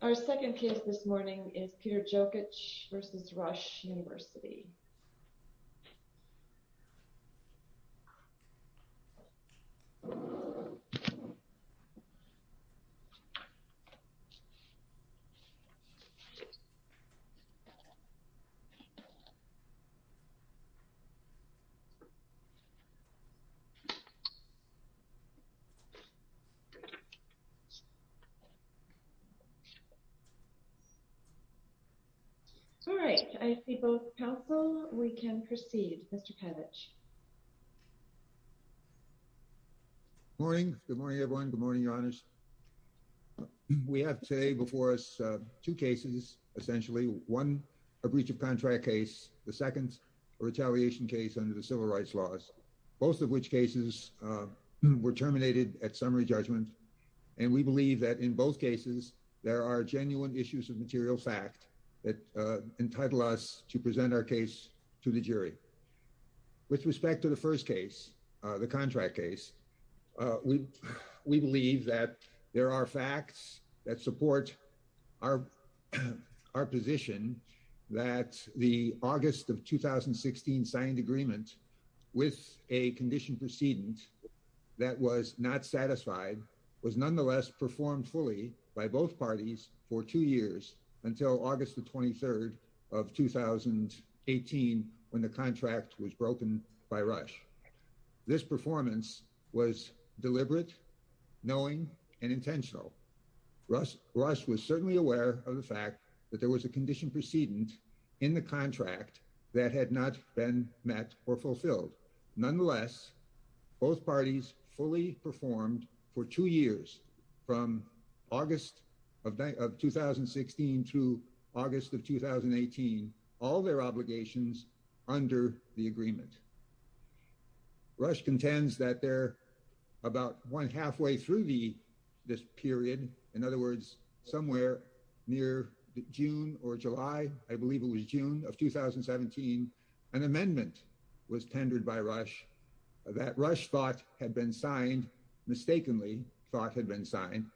Our second case this morning is Peter Jokich v. Rush University. All right. I see both counsel. We can proceed. Mr. Jokich. Good morning, everyone. Good morning, Your Honors. We have today before us two cases, essentially. One, a breach of contract case. The second, a retaliation case under the civil rights laws. Both of which cases were terminated at summary judgment. And we believe that in both cases, there are genuine issues of material fact that entitle us to present our case to the jury. With respect to the first case, the contract case. We believe that there are facts that support our position that the August of 2016 signed agreement with a condition precedent that was not satisfied was nonetheless performed fully by both parties for two years until August the 23rd of 2018 when the contract was broken by Rush. This performance was deliberate, knowing, and intentional. Rush was certainly aware of the fact that there was a condition precedent in the contract that had not been met or fulfilled. Nonetheless, both parties fully performed for two years from August of 2016 to August of 2018 all their obligations under the agreement. Rush contends that about halfway through this period, in other words, somewhere near June or July, I believe it was June of 2017, an amendment was tendered by Rush that Rush thought had been signed, mistakenly thought had been signed.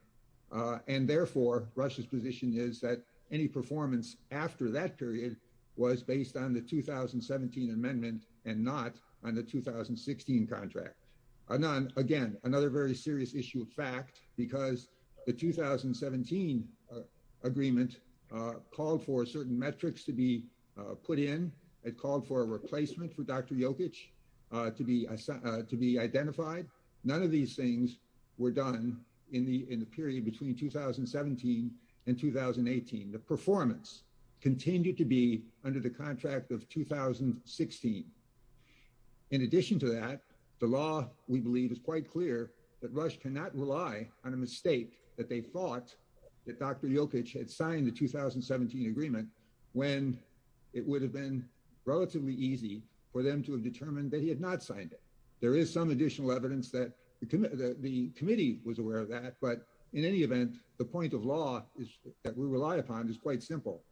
And therefore, Rush's position is that any performance after that period was based on the 2017 amendment and not on the 2016 contract. Again, another very serious issue of fact, because the 2017 agreement called for certain metrics to be put in. It called for a replacement for Dr. Jokic to be identified. None of these things were done in the period between 2017 and 2018. The performance continued to be under the contract of 2016. In addition to that, the law, we believe, is quite clear that Rush cannot rely on a mistake that they thought that Dr. Jokic had signed the 2017 agreement when it would have been relatively easy for them to have determined that he had not signed it. There is some additional evidence that the committee was aware of that, but in any event, the point of law that we rely upon is quite simple.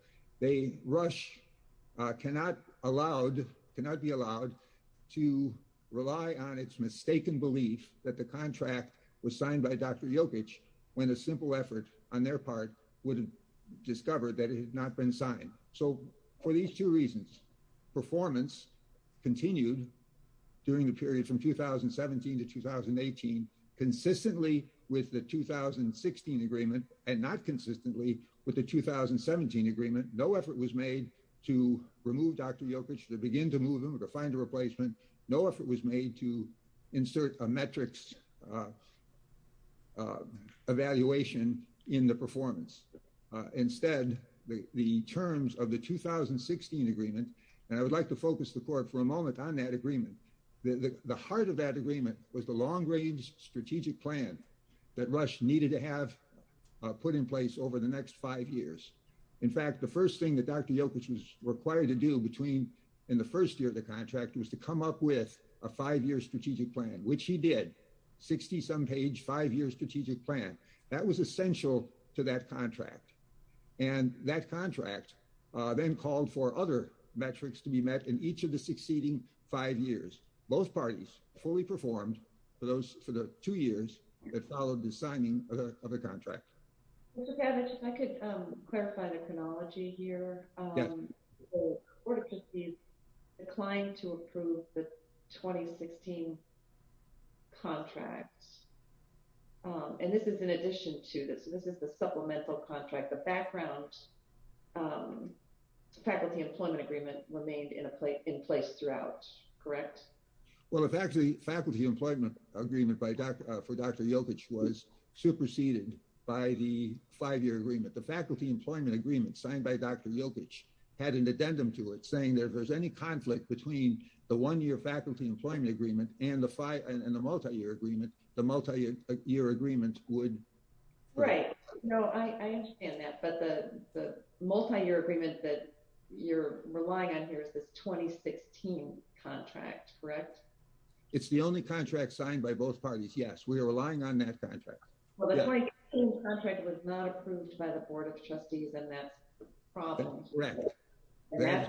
They, Rush, cannot be allowed to rely on its mistaken belief that the contract was signed by Dr. Jokic when a simple effort on their part would have discovered that it had not been signed. For these two reasons, performance continued during the period from 2017 to 2018 consistently with the 2016 agreement and not consistently with the 2017 agreement. No effort was made to remove Dr. Jokic, to begin to move him, to find a replacement. No effort was made to insert a metrics evaluation in the performance. Instead, the terms of the 2016 agreement, and I would like to focus the court for a moment on that agreement. The heart of that agreement was the long-range strategic plan that Rush needed to have put in place over the next five years. In fact, the first thing that Dr. Jokic was required to do between in the first year of the contract was to come up with a five-year strategic plan, which he did, 60-some page, five-year strategic plan. That was essential to that contract. And that contract then called for other metrics to be met in each of the succeeding five years. Both parties fully performed for the two years that followed the signing of the contract. If I could clarify the chronology here. The court declined to approve the 2016 contract. And this is in addition to this. This is the supplemental contract. The background faculty employment agreement remained in place throughout, correct? Well, the faculty employment agreement for Dr. Jokic was superseded by the five-year agreement. The faculty employment agreement signed by Dr. Jokic had an addendum to it saying if there's any conflict between the one-year faculty employment agreement and the multi-year agreement, the multi-year agreement would. Right. No, I understand that. But the multi-year agreement that you're relying on here is this 2016 contract, correct? It's the only contract signed by both parties, yes. We are relying on that contract. Well, the 2016 contract was not approved by the Board of Trustees, and that's the problem. Correct. And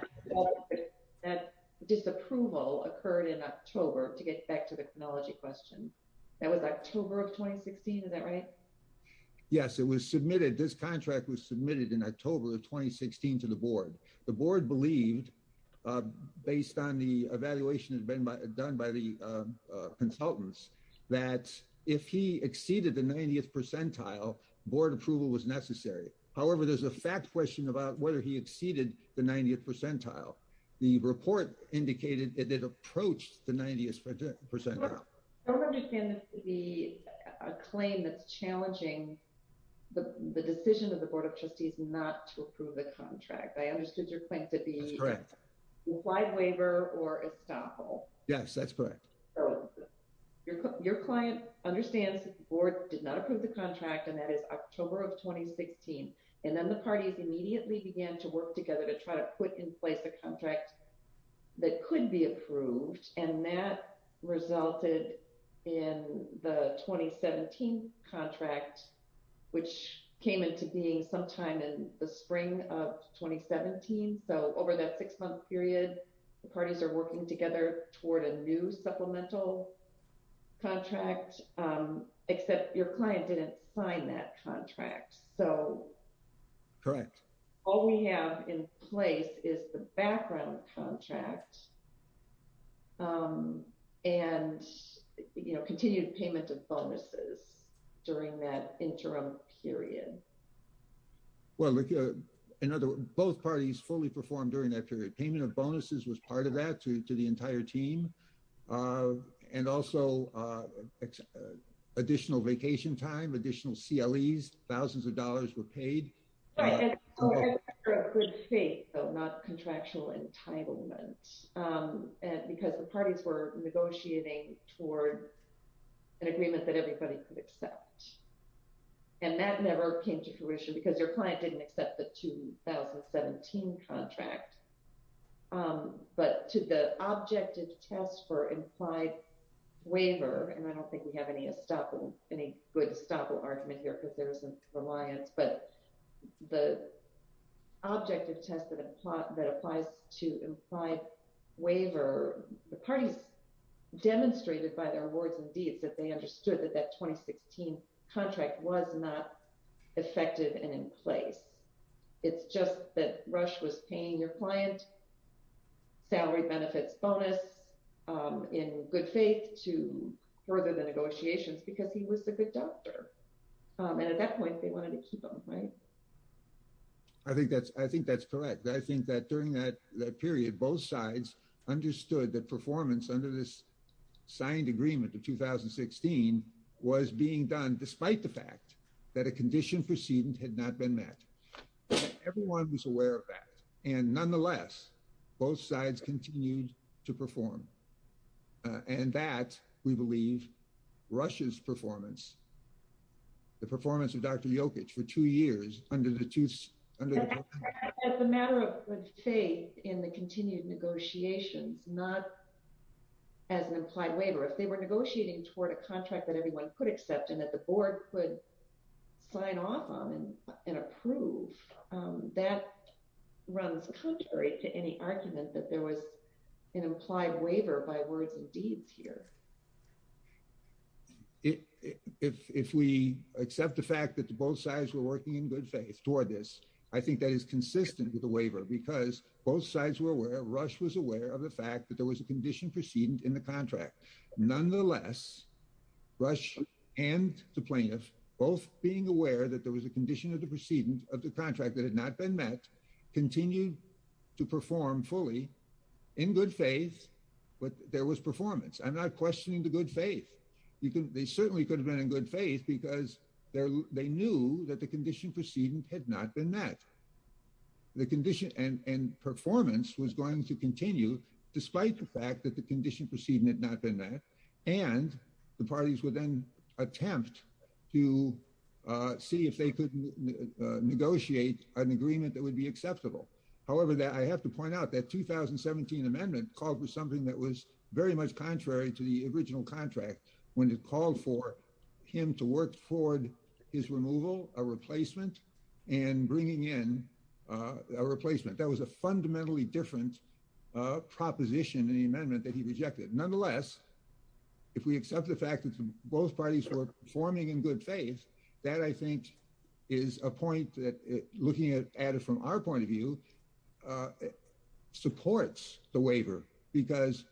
that disapproval occurred in October, to get back to the chronology question. That was October of 2016, is that right? Yes, it was submitted. This contract was submitted in October of 2016 to the board. The board believed, based on the evaluation that had been done by the consultants, that if he exceeded the 90th percentile, board approval was necessary. However, there's a fact question about whether he exceeded the 90th percentile. The report indicated that it approached the 90th percentile. I don't understand this to be a claim that's challenging the decision of the Board of Trustees not to approve the contract. I understood your claim to be a wide waiver or estoppel. Yes, that's correct. Your client understands that the board did not approve the contract, and that is October of 2016. And then the parties immediately began to work together to try to put in place a contract that could be approved, and that resulted in the 2017 contract, which came into being sometime in the spring of 2017. So over that six-month period, the parties are working together toward a new supplemental contract, except your client didn't sign that contract. Correct. All we have in place is the background contract and continued payment of bonuses during that interim period. Well, in other words, both parties fully performed during that period. Payment of bonuses was part of that to the entire team, and also additional vacation time, additional CLEs, thousands of dollars were paid. It was a matter of good faith, though, not contractual entitlement, because the parties were negotiating toward an agreement that everybody could accept. And that never came to fruition because your client didn't accept the 2017 contract. But to the objective test for implied waiver, and I don't think we have any good estoppel argument here because there isn't reliance, but the objective test that applies to implied waiver, the parties demonstrated by their words and deeds that they understood that that 2016 contract was not effective and in place. It's just that Rush was paying your client salary benefits bonus in good faith to further the negotiations because he was a good doctor. And at that point, they wanted to keep him, right? I think that's correct. I think that during that period, both sides understood that performance under this signed agreement of 2016 was being done despite the fact that a condition precedent had not been met. Everyone was aware of that. And nonetheless, both sides continued to perform. And that, we believe, rushes performance, the performance of Dr. Jokic for two years under the two- It's a matter of good faith in the continued negotiations, not as an implied waiver. If they were negotiating toward a contract that everyone could accept and that the board could sign off on and approve, that runs contrary to any argument that there was an implied waiver by words and deeds here. If we accept the fact that both sides were working in good faith toward this, I think that is consistent with the waiver because both sides were aware, Rush was aware of the fact that there was a condition precedent in the contract. Nonetheless, Rush and the plaintiff, both being aware that there was a condition of the precedent of the contract that had not been met, continued to perform fully in good faith. But there was performance. I'm not questioning the good faith. They certainly could have been in good faith because they knew that the condition precedent had not been met. The condition and performance was going to continue despite the fact that the condition precedent had not been met. And the parties would then attempt to see if they could negotiate an agreement that would be acceptable. However, I have to point out that 2017 amendment called for something that was very much contrary to the original contract when it called for him to work toward his removal, a replacement, and bringing in a replacement. That was a fundamentally different proposition in the amendment that he rejected. Nonetheless, if we accept the fact that both parties were performing in good faith, that I think is a point that, looking at it from our point of view, supports the waiver because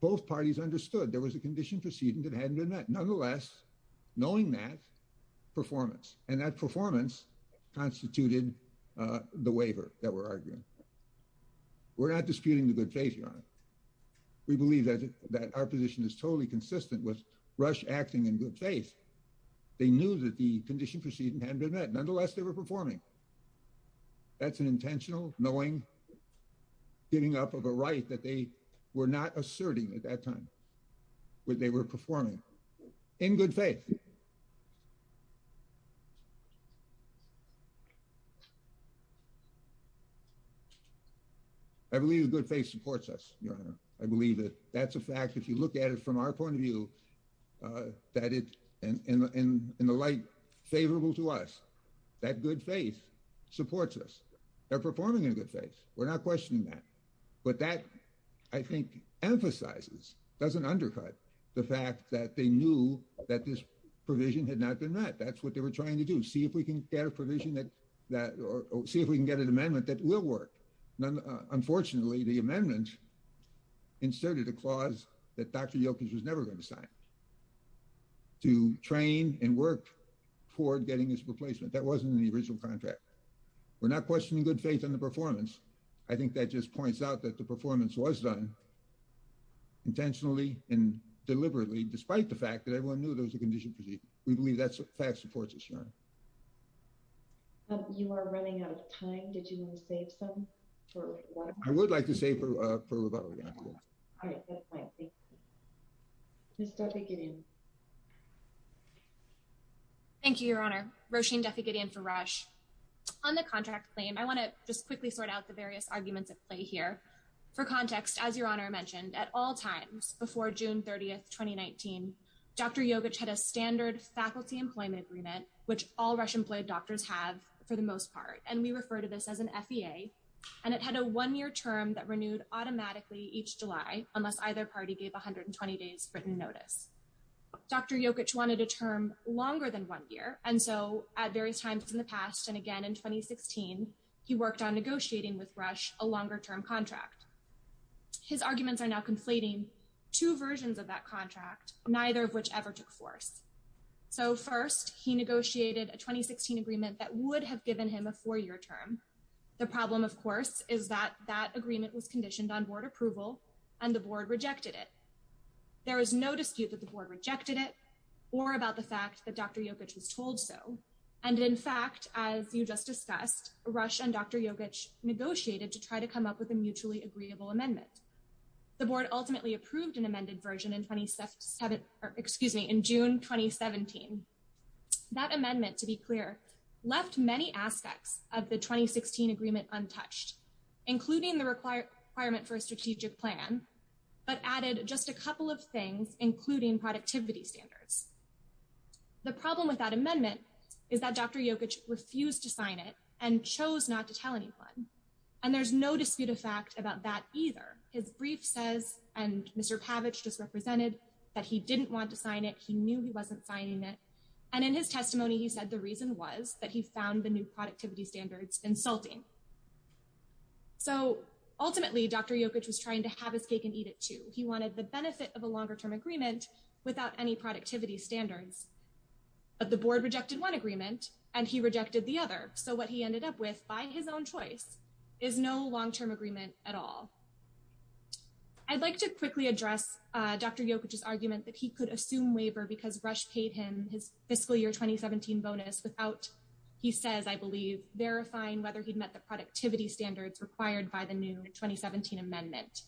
both parties understood there was a condition precedent that hadn't been met. Nonetheless, knowing that, performance. And that performance constituted the waiver that we're arguing. We're not disputing the good faith, Your Honor. We believe that our position is totally consistent with Rush acting in good faith. They knew that the condition precedent hadn't been met. Nonetheless, they were performing. That's an intentional knowing, giving up of a right that they were not asserting at that time when they were performing in good faith. I believe good faith supports us, Your Honor. I believe it. That's a fact. If you look at it from our point of view, in the light favorable to us, that good faith supports us. They're performing in good faith. We're not questioning that. But that, I think, emphasizes, doesn't undercut the fact that they knew that this provision had not been met. That's what they were trying to do, see if we can get a provision that or see if we can get an amendment that will work. Unfortunately, the amendment inserted a clause that Dr. Yilkes was never going to sign to train and work for getting this replacement. That wasn't in the original contract. We're not questioning good faith in the performance. I think that just points out that the performance was done intentionally and deliberately, despite the fact that everyone knew there was a condition. We believe that fact supports us, Your Honor. You are running out of time. Did you want to save some? I would like to save for rebuttal. Ms. Duffy-Gideon. Thank you, Your Honor. Roisin Duffy-Gideon for Rush. On the contract claim, I want to just quickly sort out the various arguments at play here. For context, as Your Honor mentioned, at all times before June 30th, 2019, Dr. Yilkes had a standard faculty employment agreement, which all Rush-employed doctors have, for the most part. And we refer to this as an FEA. And it had a one-year term that renewed automatically each July, unless either party gave 120 days written notice. Dr. Yilkes wanted a term longer than one year, and so at various times in the past, and again in 2016, he worked on negotiating with Rush a longer-term contract. His arguments are now conflating two versions of that contract, neither of which ever took force. So first, he negotiated a 2016 agreement that would have given him a four-year term. The problem, of course, is that that agreement was conditioned on board approval, and the board rejected it. There was no dispute that the board rejected it, or about the fact that Dr. Yilkes was told so. And in fact, as you just discussed, Rush and Dr. Yilkes negotiated to try to come up with a mutually agreeable amendment. The board ultimately approved an amended version in June 2017. That amendment, to be clear, left many aspects of the 2016 agreement untouched, including the requirement for a strategic plan, but added just a couple of things, including productivity standards. The problem with that amendment is that Dr. Yilkes refused to sign it and chose not to tell anyone. And there's no dispute of fact about that either. His brief says, and Mr. Pavich just represented, that he didn't want to sign it. He knew he wasn't signing it. And in his testimony, he said the reason was that he found the new productivity standards insulting. So ultimately, Dr. Yilkes was trying to have his cake and eat it, too. He wanted the benefit of a longer-term agreement without any productivity standards. But the board rejected one agreement, and he rejected the other. So what he ended up with, by his own choice, is no long-term agreement at all. I'd like to quickly address Dr. Yilkes' argument that he could assume waiver because Rush paid him his fiscal year 2017 bonus without, he says, I believe, verifying whether he'd met the productivity standards required by the new 2017 amendment.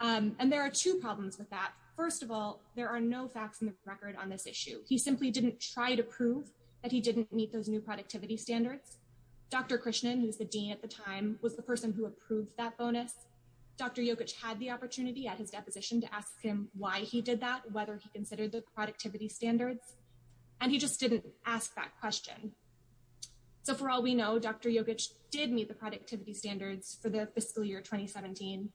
And there are two problems with that. First of all, there are no facts in the record on this issue. He simply didn't try to prove that he didn't meet those new productivity standards. Dr. Krishnan, who was the dean at the time, was the person who approved that bonus. Dr. Yilkes had the opportunity at his deposition to ask him why he did that, whether he considered the productivity standards. And he just didn't ask that question. So for all we know, Dr. Yilkes did meet the productivity standards for the fiscal year 2017.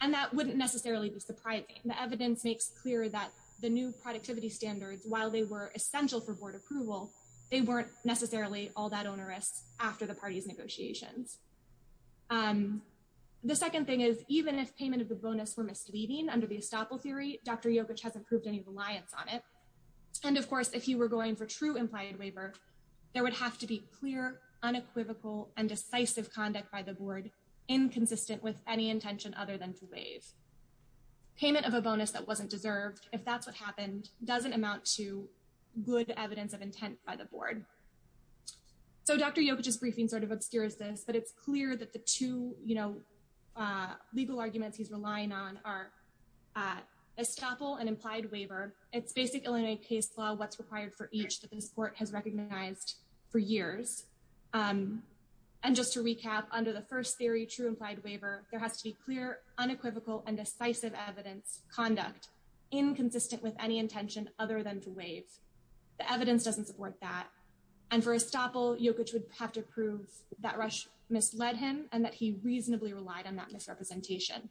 And that wouldn't necessarily be surprising. The evidence makes clear that the new productivity standards, while they were essential for board approval, they weren't necessarily all that onerous after the party's negotiations. The second thing is, even if payment of the bonus were misleading under the estoppel theory, Dr. Yilkes hasn't proved any reliance on it. And, of course, if he were going for true implied waiver, there would have to be clear, unequivocal, and decisive conduct by the board inconsistent with any intention other than to waive. Payment of a bonus that wasn't deserved, if that's what happened, doesn't amount to good evidence of intent by the board. So Dr. Yilkes' briefing sort of obscures this, but it's clear that the two legal arguments he's relying on are estoppel and implied waiver. It's basic Illinois case law what's required for each that this court has recognized for years. And just to recap, under the first theory, true implied waiver, there has to be clear, unequivocal, and decisive evidence conduct inconsistent with any intention other than to waive. The evidence doesn't support that. And for estoppel, Yilkes would have to prove that Rush misled him and that he reasonably relied on that misrepresentation.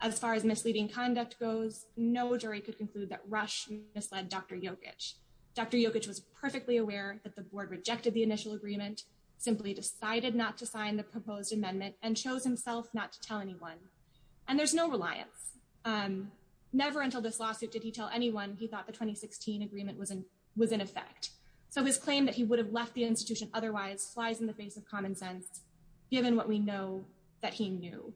As far as misleading conduct goes, no jury could conclude that Rush misled Dr. Yilkes. Dr. Yilkes was perfectly aware that the board rejected the initial agreement, simply decided not to sign the proposed amendment, and chose himself not to tell anyone. And there's no reliance. Never until this lawsuit did he tell anyone he thought the 2016 agreement was in effect. So his claim that he would have left the institution otherwise flies in the face of common sense, given what we know that he knew.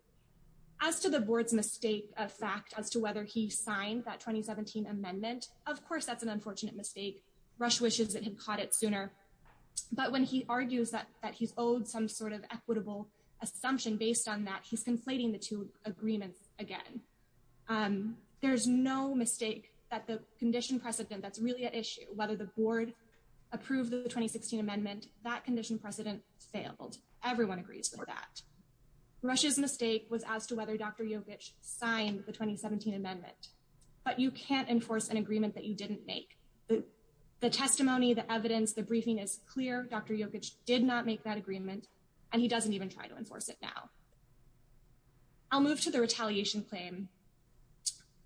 As to the board's mistake of fact as to whether he signed that 2017 amendment, of course that's an unfortunate mistake. Rush wishes it had caught it sooner. But when he argues that he's owed some sort of equitable assumption based on that, he's conflating the two agreements again. There's no mistake that the condition precedent that's really at issue, whether the board approved the 2016 amendment, that condition precedent failed. Everyone agrees with that. Rush's mistake was as to whether Dr. Yilkes signed the 2017 amendment. But you can't enforce an agreement that you didn't make. The testimony, the evidence, the briefing is clear. Dr. Yilkes did not make that agreement, and he doesn't even try to enforce it now. I'll move to the retaliation claim,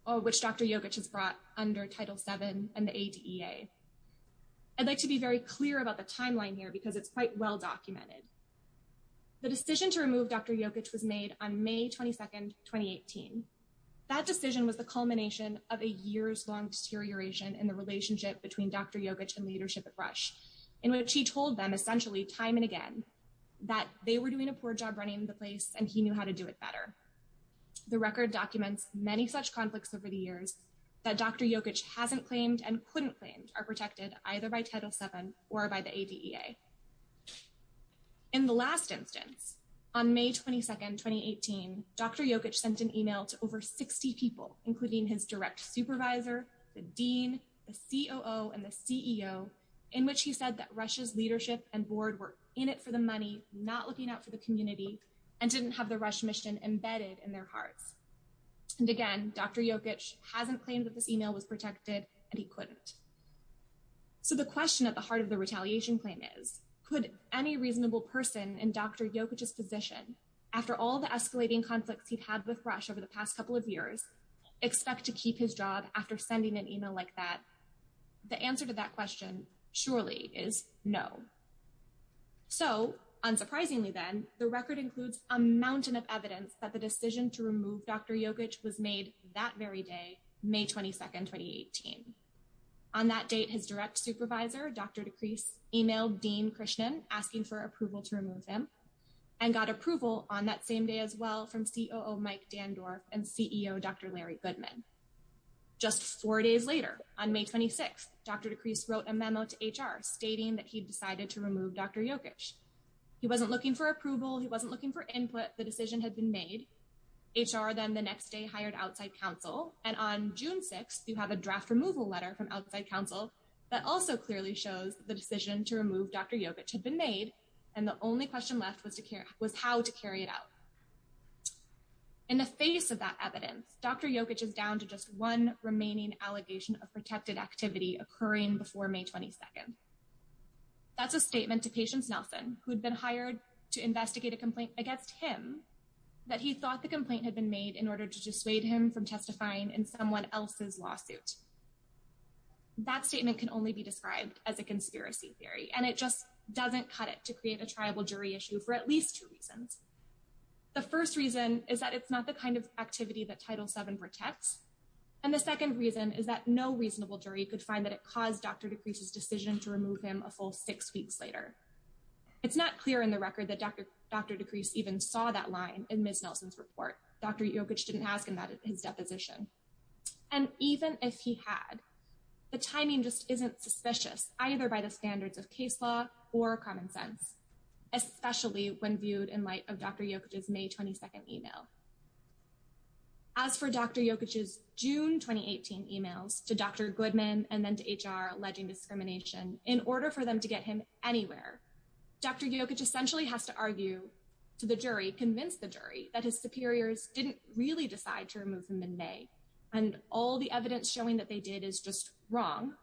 which Dr. Yilkes has brought under Title VII and the ADA. I'd like to be very clear about the timeline here because it's quite well documented. The decision to remove Dr. Yilkes was made on May 22, 2018. That decision was the culmination of a years-long deterioration in the relationship between Dr. Yilkes and leadership at Rush, in which he told them essentially time and again that they were doing a poor job running the place and he knew how to do it better. The record documents many such conflicts over the years that Dr. Yilkes hasn't claimed and couldn't claim are protected either by Title VII or by the ADA. In the last instance, on May 22, 2018, Dr. Yilkes sent an email to over 60 people, including his direct supervisor, the dean, the COO, and the CEO, in which he said that Rush's leadership and board were in it for the money, not looking out for the community, and didn't have the Rush mission embedded in their hearts. And again, Dr. Yilkes hasn't claimed that this email was protected, and he couldn't. So the question at the heart of the retaliation claim is, could any reasonable person in Dr. Yilkes' position, after all the escalating conflicts he'd had with Rush over the past couple of years, expect to keep his job after sending an email like that? The answer to that question, surely, is no. So, unsurprisingly then, the record includes a mountain of evidence that the decision to remove Dr. Yilkes was made that very day, May 22, 2018. On that date, his direct supervisor, Dr. DeCrease, emailed Dean Krishnan, asking for approval to remove him, and got approval on that same day as well from COO Mike Dandorf and CEO Dr. Larry Goodman. Just four days later, on May 26, Dr. DeCrease wrote a memo to HR stating that he'd decided to remove Dr. Yilkes. He wasn't looking for approval. He wasn't looking for input. The decision had been made. HR then the next day hired outside counsel, and on June 6, you have a draft removal letter from outside counsel that also clearly shows the decision to remove Dr. Yilkes had been made, and the only question left was how to carry it out. In the face of that evidence, Dr. Yilkes is down to just one remaining allegation of protected activity occurring before May 22. That's a statement to Patience Nelson, who'd been hired to investigate a complaint against him, that he thought the complaint had been made in order to dissuade him from testifying in someone else's lawsuit. That statement can only be described as a conspiracy theory, and it just doesn't cut it to create a tribal jury issue for at least two reasons. The first reason is that it's not the kind of activity that Title VII protects, and the second reason is that no reasonable jury could find that it caused Dr. DeCrease's decision to remove him a full six weeks later. It's not clear in the record that Dr. DeCrease even saw that line in Ms. Nelson's report. Dr. Yilkes didn't ask him that at his deposition. And even if he had, the timing just isn't suspicious, either by the standards of case law or common sense, especially when viewed in light of Dr. Yilkes' May 22 email. As for Dr. Yilkes' June 2018 emails to Dr. Goodman and then to HR alleging discrimination, in order for them to get him anywhere, Dr. Yilkes essentially has to argue to the jury, convince the jury, that his superiors didn't really decide to remove him in May, and all the evidence showing that they did is just wrong,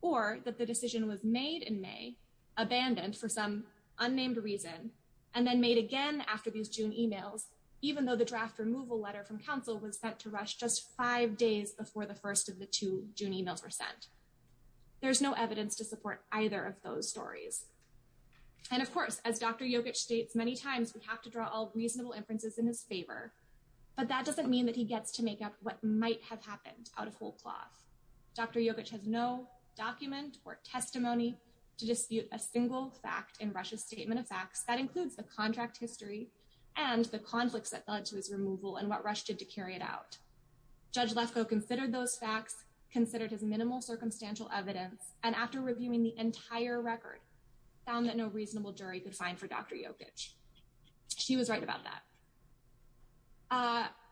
or that the decision was made in May, abandoned for some unnamed reason, and then made again after these June emails, even though the draft removal letter from counsel was meant to rush just five days before the first of the two June emails were sent. There's no evidence to support either of those stories. And of course, as Dr. Yilkes states many times, we have to draw all reasonable inferences in his favor, but that doesn't mean that he gets to make up what might have happened out of whole cloth. Dr. Yilkes has no document or testimony to dispute a single fact in Rush's statement of facts. That includes the contract history and the conflicts that led to his removal and what Rush did to carry it out. Judge Lefkoe considered those facts, considered his minimal circumstantial evidence, and after reviewing the entire record, found that no reasonable jury could find for Dr. Yilkes. She was right about that.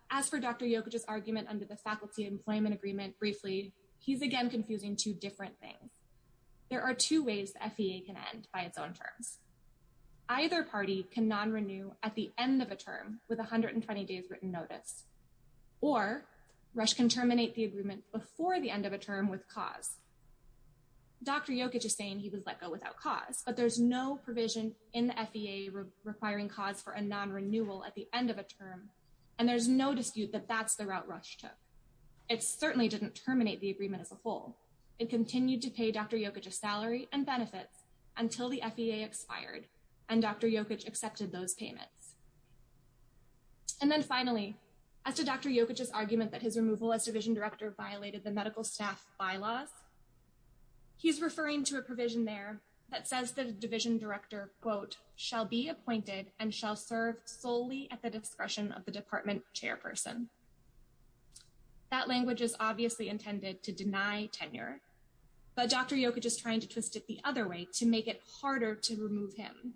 As for Dr. Yilkes' argument under the Faculty Employment Agreement, briefly, he's again confusing two different things. There are two ways the FEA can end by its own terms. Either party can non-renew at the end of a term with 120 days written notice, or Rush can terminate the agreement before the end of a term with cause. Dr. Yilkes is saying he was let go without cause, but there's no provision in the FEA requiring cause for a non-renewal at the end of a term, and there's no dispute that that's the route Rush took. It certainly didn't terminate the agreement as a whole. It continued to pay Dr. Yilkes a salary and benefits until the FEA expired, and Dr. Yilkes accepted those payments. And then finally, as to Dr. Yilkes' argument that his removal as division director violated the medical staff bylaws, he's referring to a provision there that says the division director, quote, shall be appointed and shall serve solely at the discretion of the department chairperson. That language is obviously intended to deny tenure, but Dr. Yilkes is trying to twist it the other way to make it harder to remove him.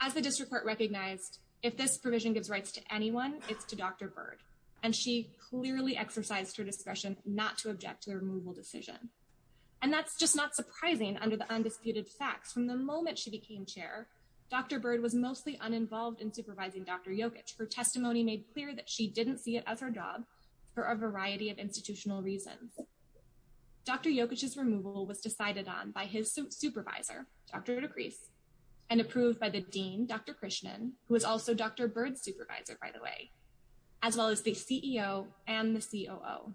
As the district court recognized, if this provision gives rights to anyone, it's to Dr. Byrd, and she clearly exercised her discretion not to object to the removal decision. And that's just not surprising under the undisputed facts. From the moment she became chair, Dr. Byrd was mostly uninvolved in supervising Dr. Yilkes. Her testimony made clear that she didn't see it as her job for a variety of institutional reasons. Dr. Yilkes' removal was decided on by his supervisor, Dr. DeCrease, and approved by the dean, Dr. Krishnan, who was also Dr. Byrd's supervisor, by the way, as well as the CEO and the COO.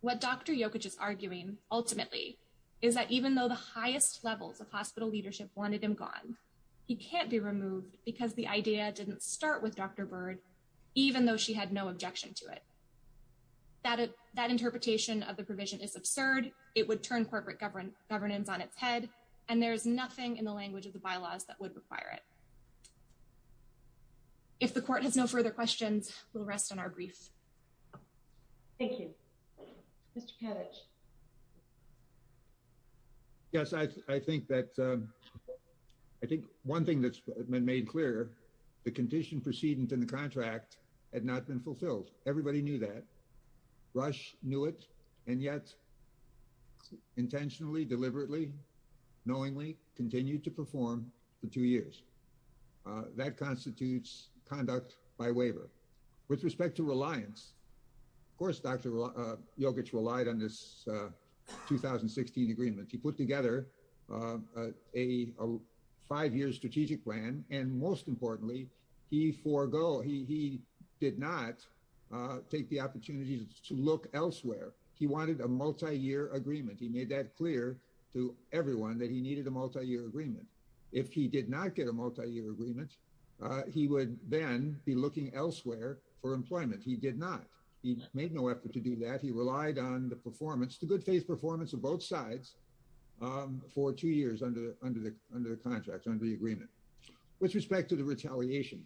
What Dr. Yilkes is arguing, ultimately, is that even though the highest levels of hospital leadership wanted him gone, he can't be removed because the idea didn't start with Dr. Byrd, even though she had no objection to it. That interpretation of the provision is absurd, it would turn corporate governance on its head, and there's nothing in the language of the bylaws that would require it. If the court has no further questions, we'll rest on our brief. Thank you. Mr. Kadich. Yes, I think that... I think one thing that's been made clear, the condition preceding the contract had not been fulfilled. Everybody knew that. Rush knew it, and yet, intentionally, deliberately, knowingly, continued to perform for two years. That constitutes conduct by waiver. With respect to reliance, of course, Dr. Yilkes relied on this 2016 agreement. He put together a five-year strategic plan, and most importantly, he forgo... He did not take the opportunity to look elsewhere. He wanted a multi-year agreement. He made that clear to everyone that he needed a multi-year agreement. If he did not get a multi-year agreement, he would then be looking elsewhere for employment. He made no effort to do that. He relied on the performance, the good faith performance of both sides, for two years under the contract, under the agreement. With respect to the retaliation,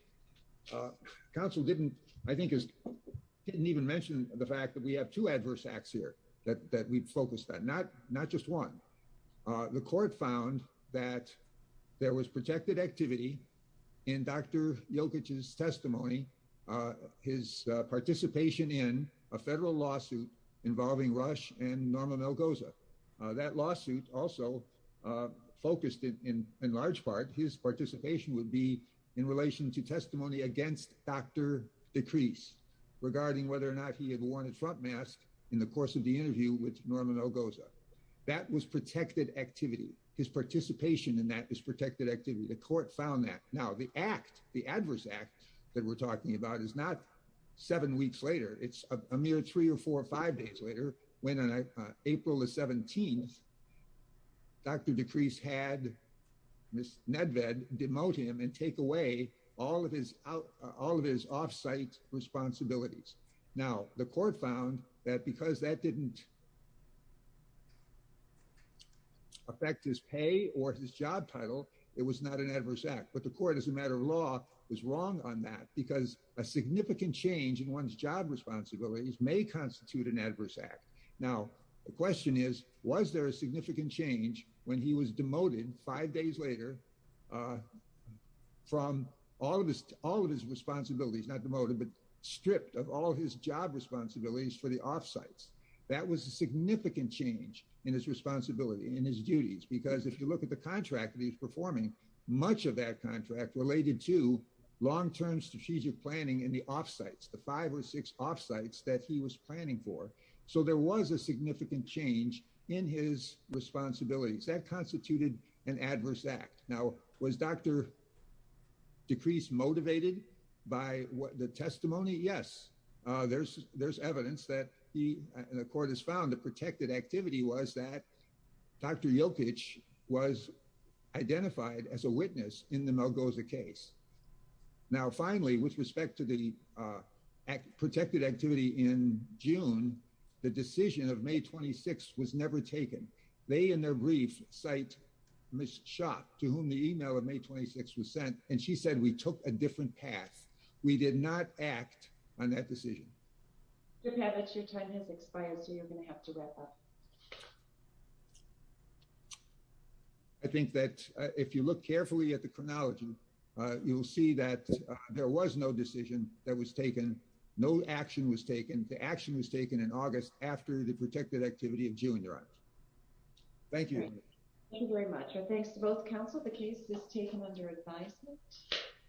counsel didn't, I think, didn't even mention the fact that we have two adverse acts here that we'd focused on, not just one. The court found that there was protected activity in Dr. Yilkes' testimony. His participation in a federal lawsuit involving Rush and Norma Melgoza. That lawsuit also focused, in large part, his participation would be in relation to testimony against Dr. Decrees, regarding whether or not he had worn a Trump mask in the course of the interview with Norma Melgoza. That was protected activity. His participation in that is protected activity. The court found that. Now, the act, the adverse act that we're talking about is not seven weeks later. It's a mere three or four or five days later, when on April the 17th, Dr. Decrees had Ms. Nedved demote him and take away all of his off-site responsibilities. Now, the court found that because that didn't affect his pay or his job title, it was not an adverse act. But the court, as a matter of law, was wrong on that because a significant change in one's job responsibilities may constitute an adverse act. Now, the question is, was there a significant change when he was demoted five days later from all of his responsibilities, not demoted, but stripped of all his job responsibilities for the off-sites? That was a significant change in his responsibility, in his duties, because if you look at the contract that he was performing, much of that contract related to long-term strategic planning in the off-sites, the five or six off-sites that he was planning for. So there was a significant change in his responsibilities. That constituted an adverse act. Now, was Dr. Decrees motivated by the testimony? Yes, there's evidence that he, and the court has found the protected activity was that Dr. Jokic was identified as a witness in the Malgoza case. Now, finally, with respect to the protected activity in June, the decision of May 26th was never taken. They, in their brief, cite Ms. Schott, to whom the email of May 26th was sent, and she said, we took a different path. We did not act on that decision. Mr. Pavich, your time has expired, so you're going to have to wrap up. I think that if you look carefully at the chronology, you'll see that there was no decision that was taken. No action was taken. The action was taken in August after the protected activity in June arrived. Thank you. Thank you very much, and thanks to both counsel. The case is taken under advisement.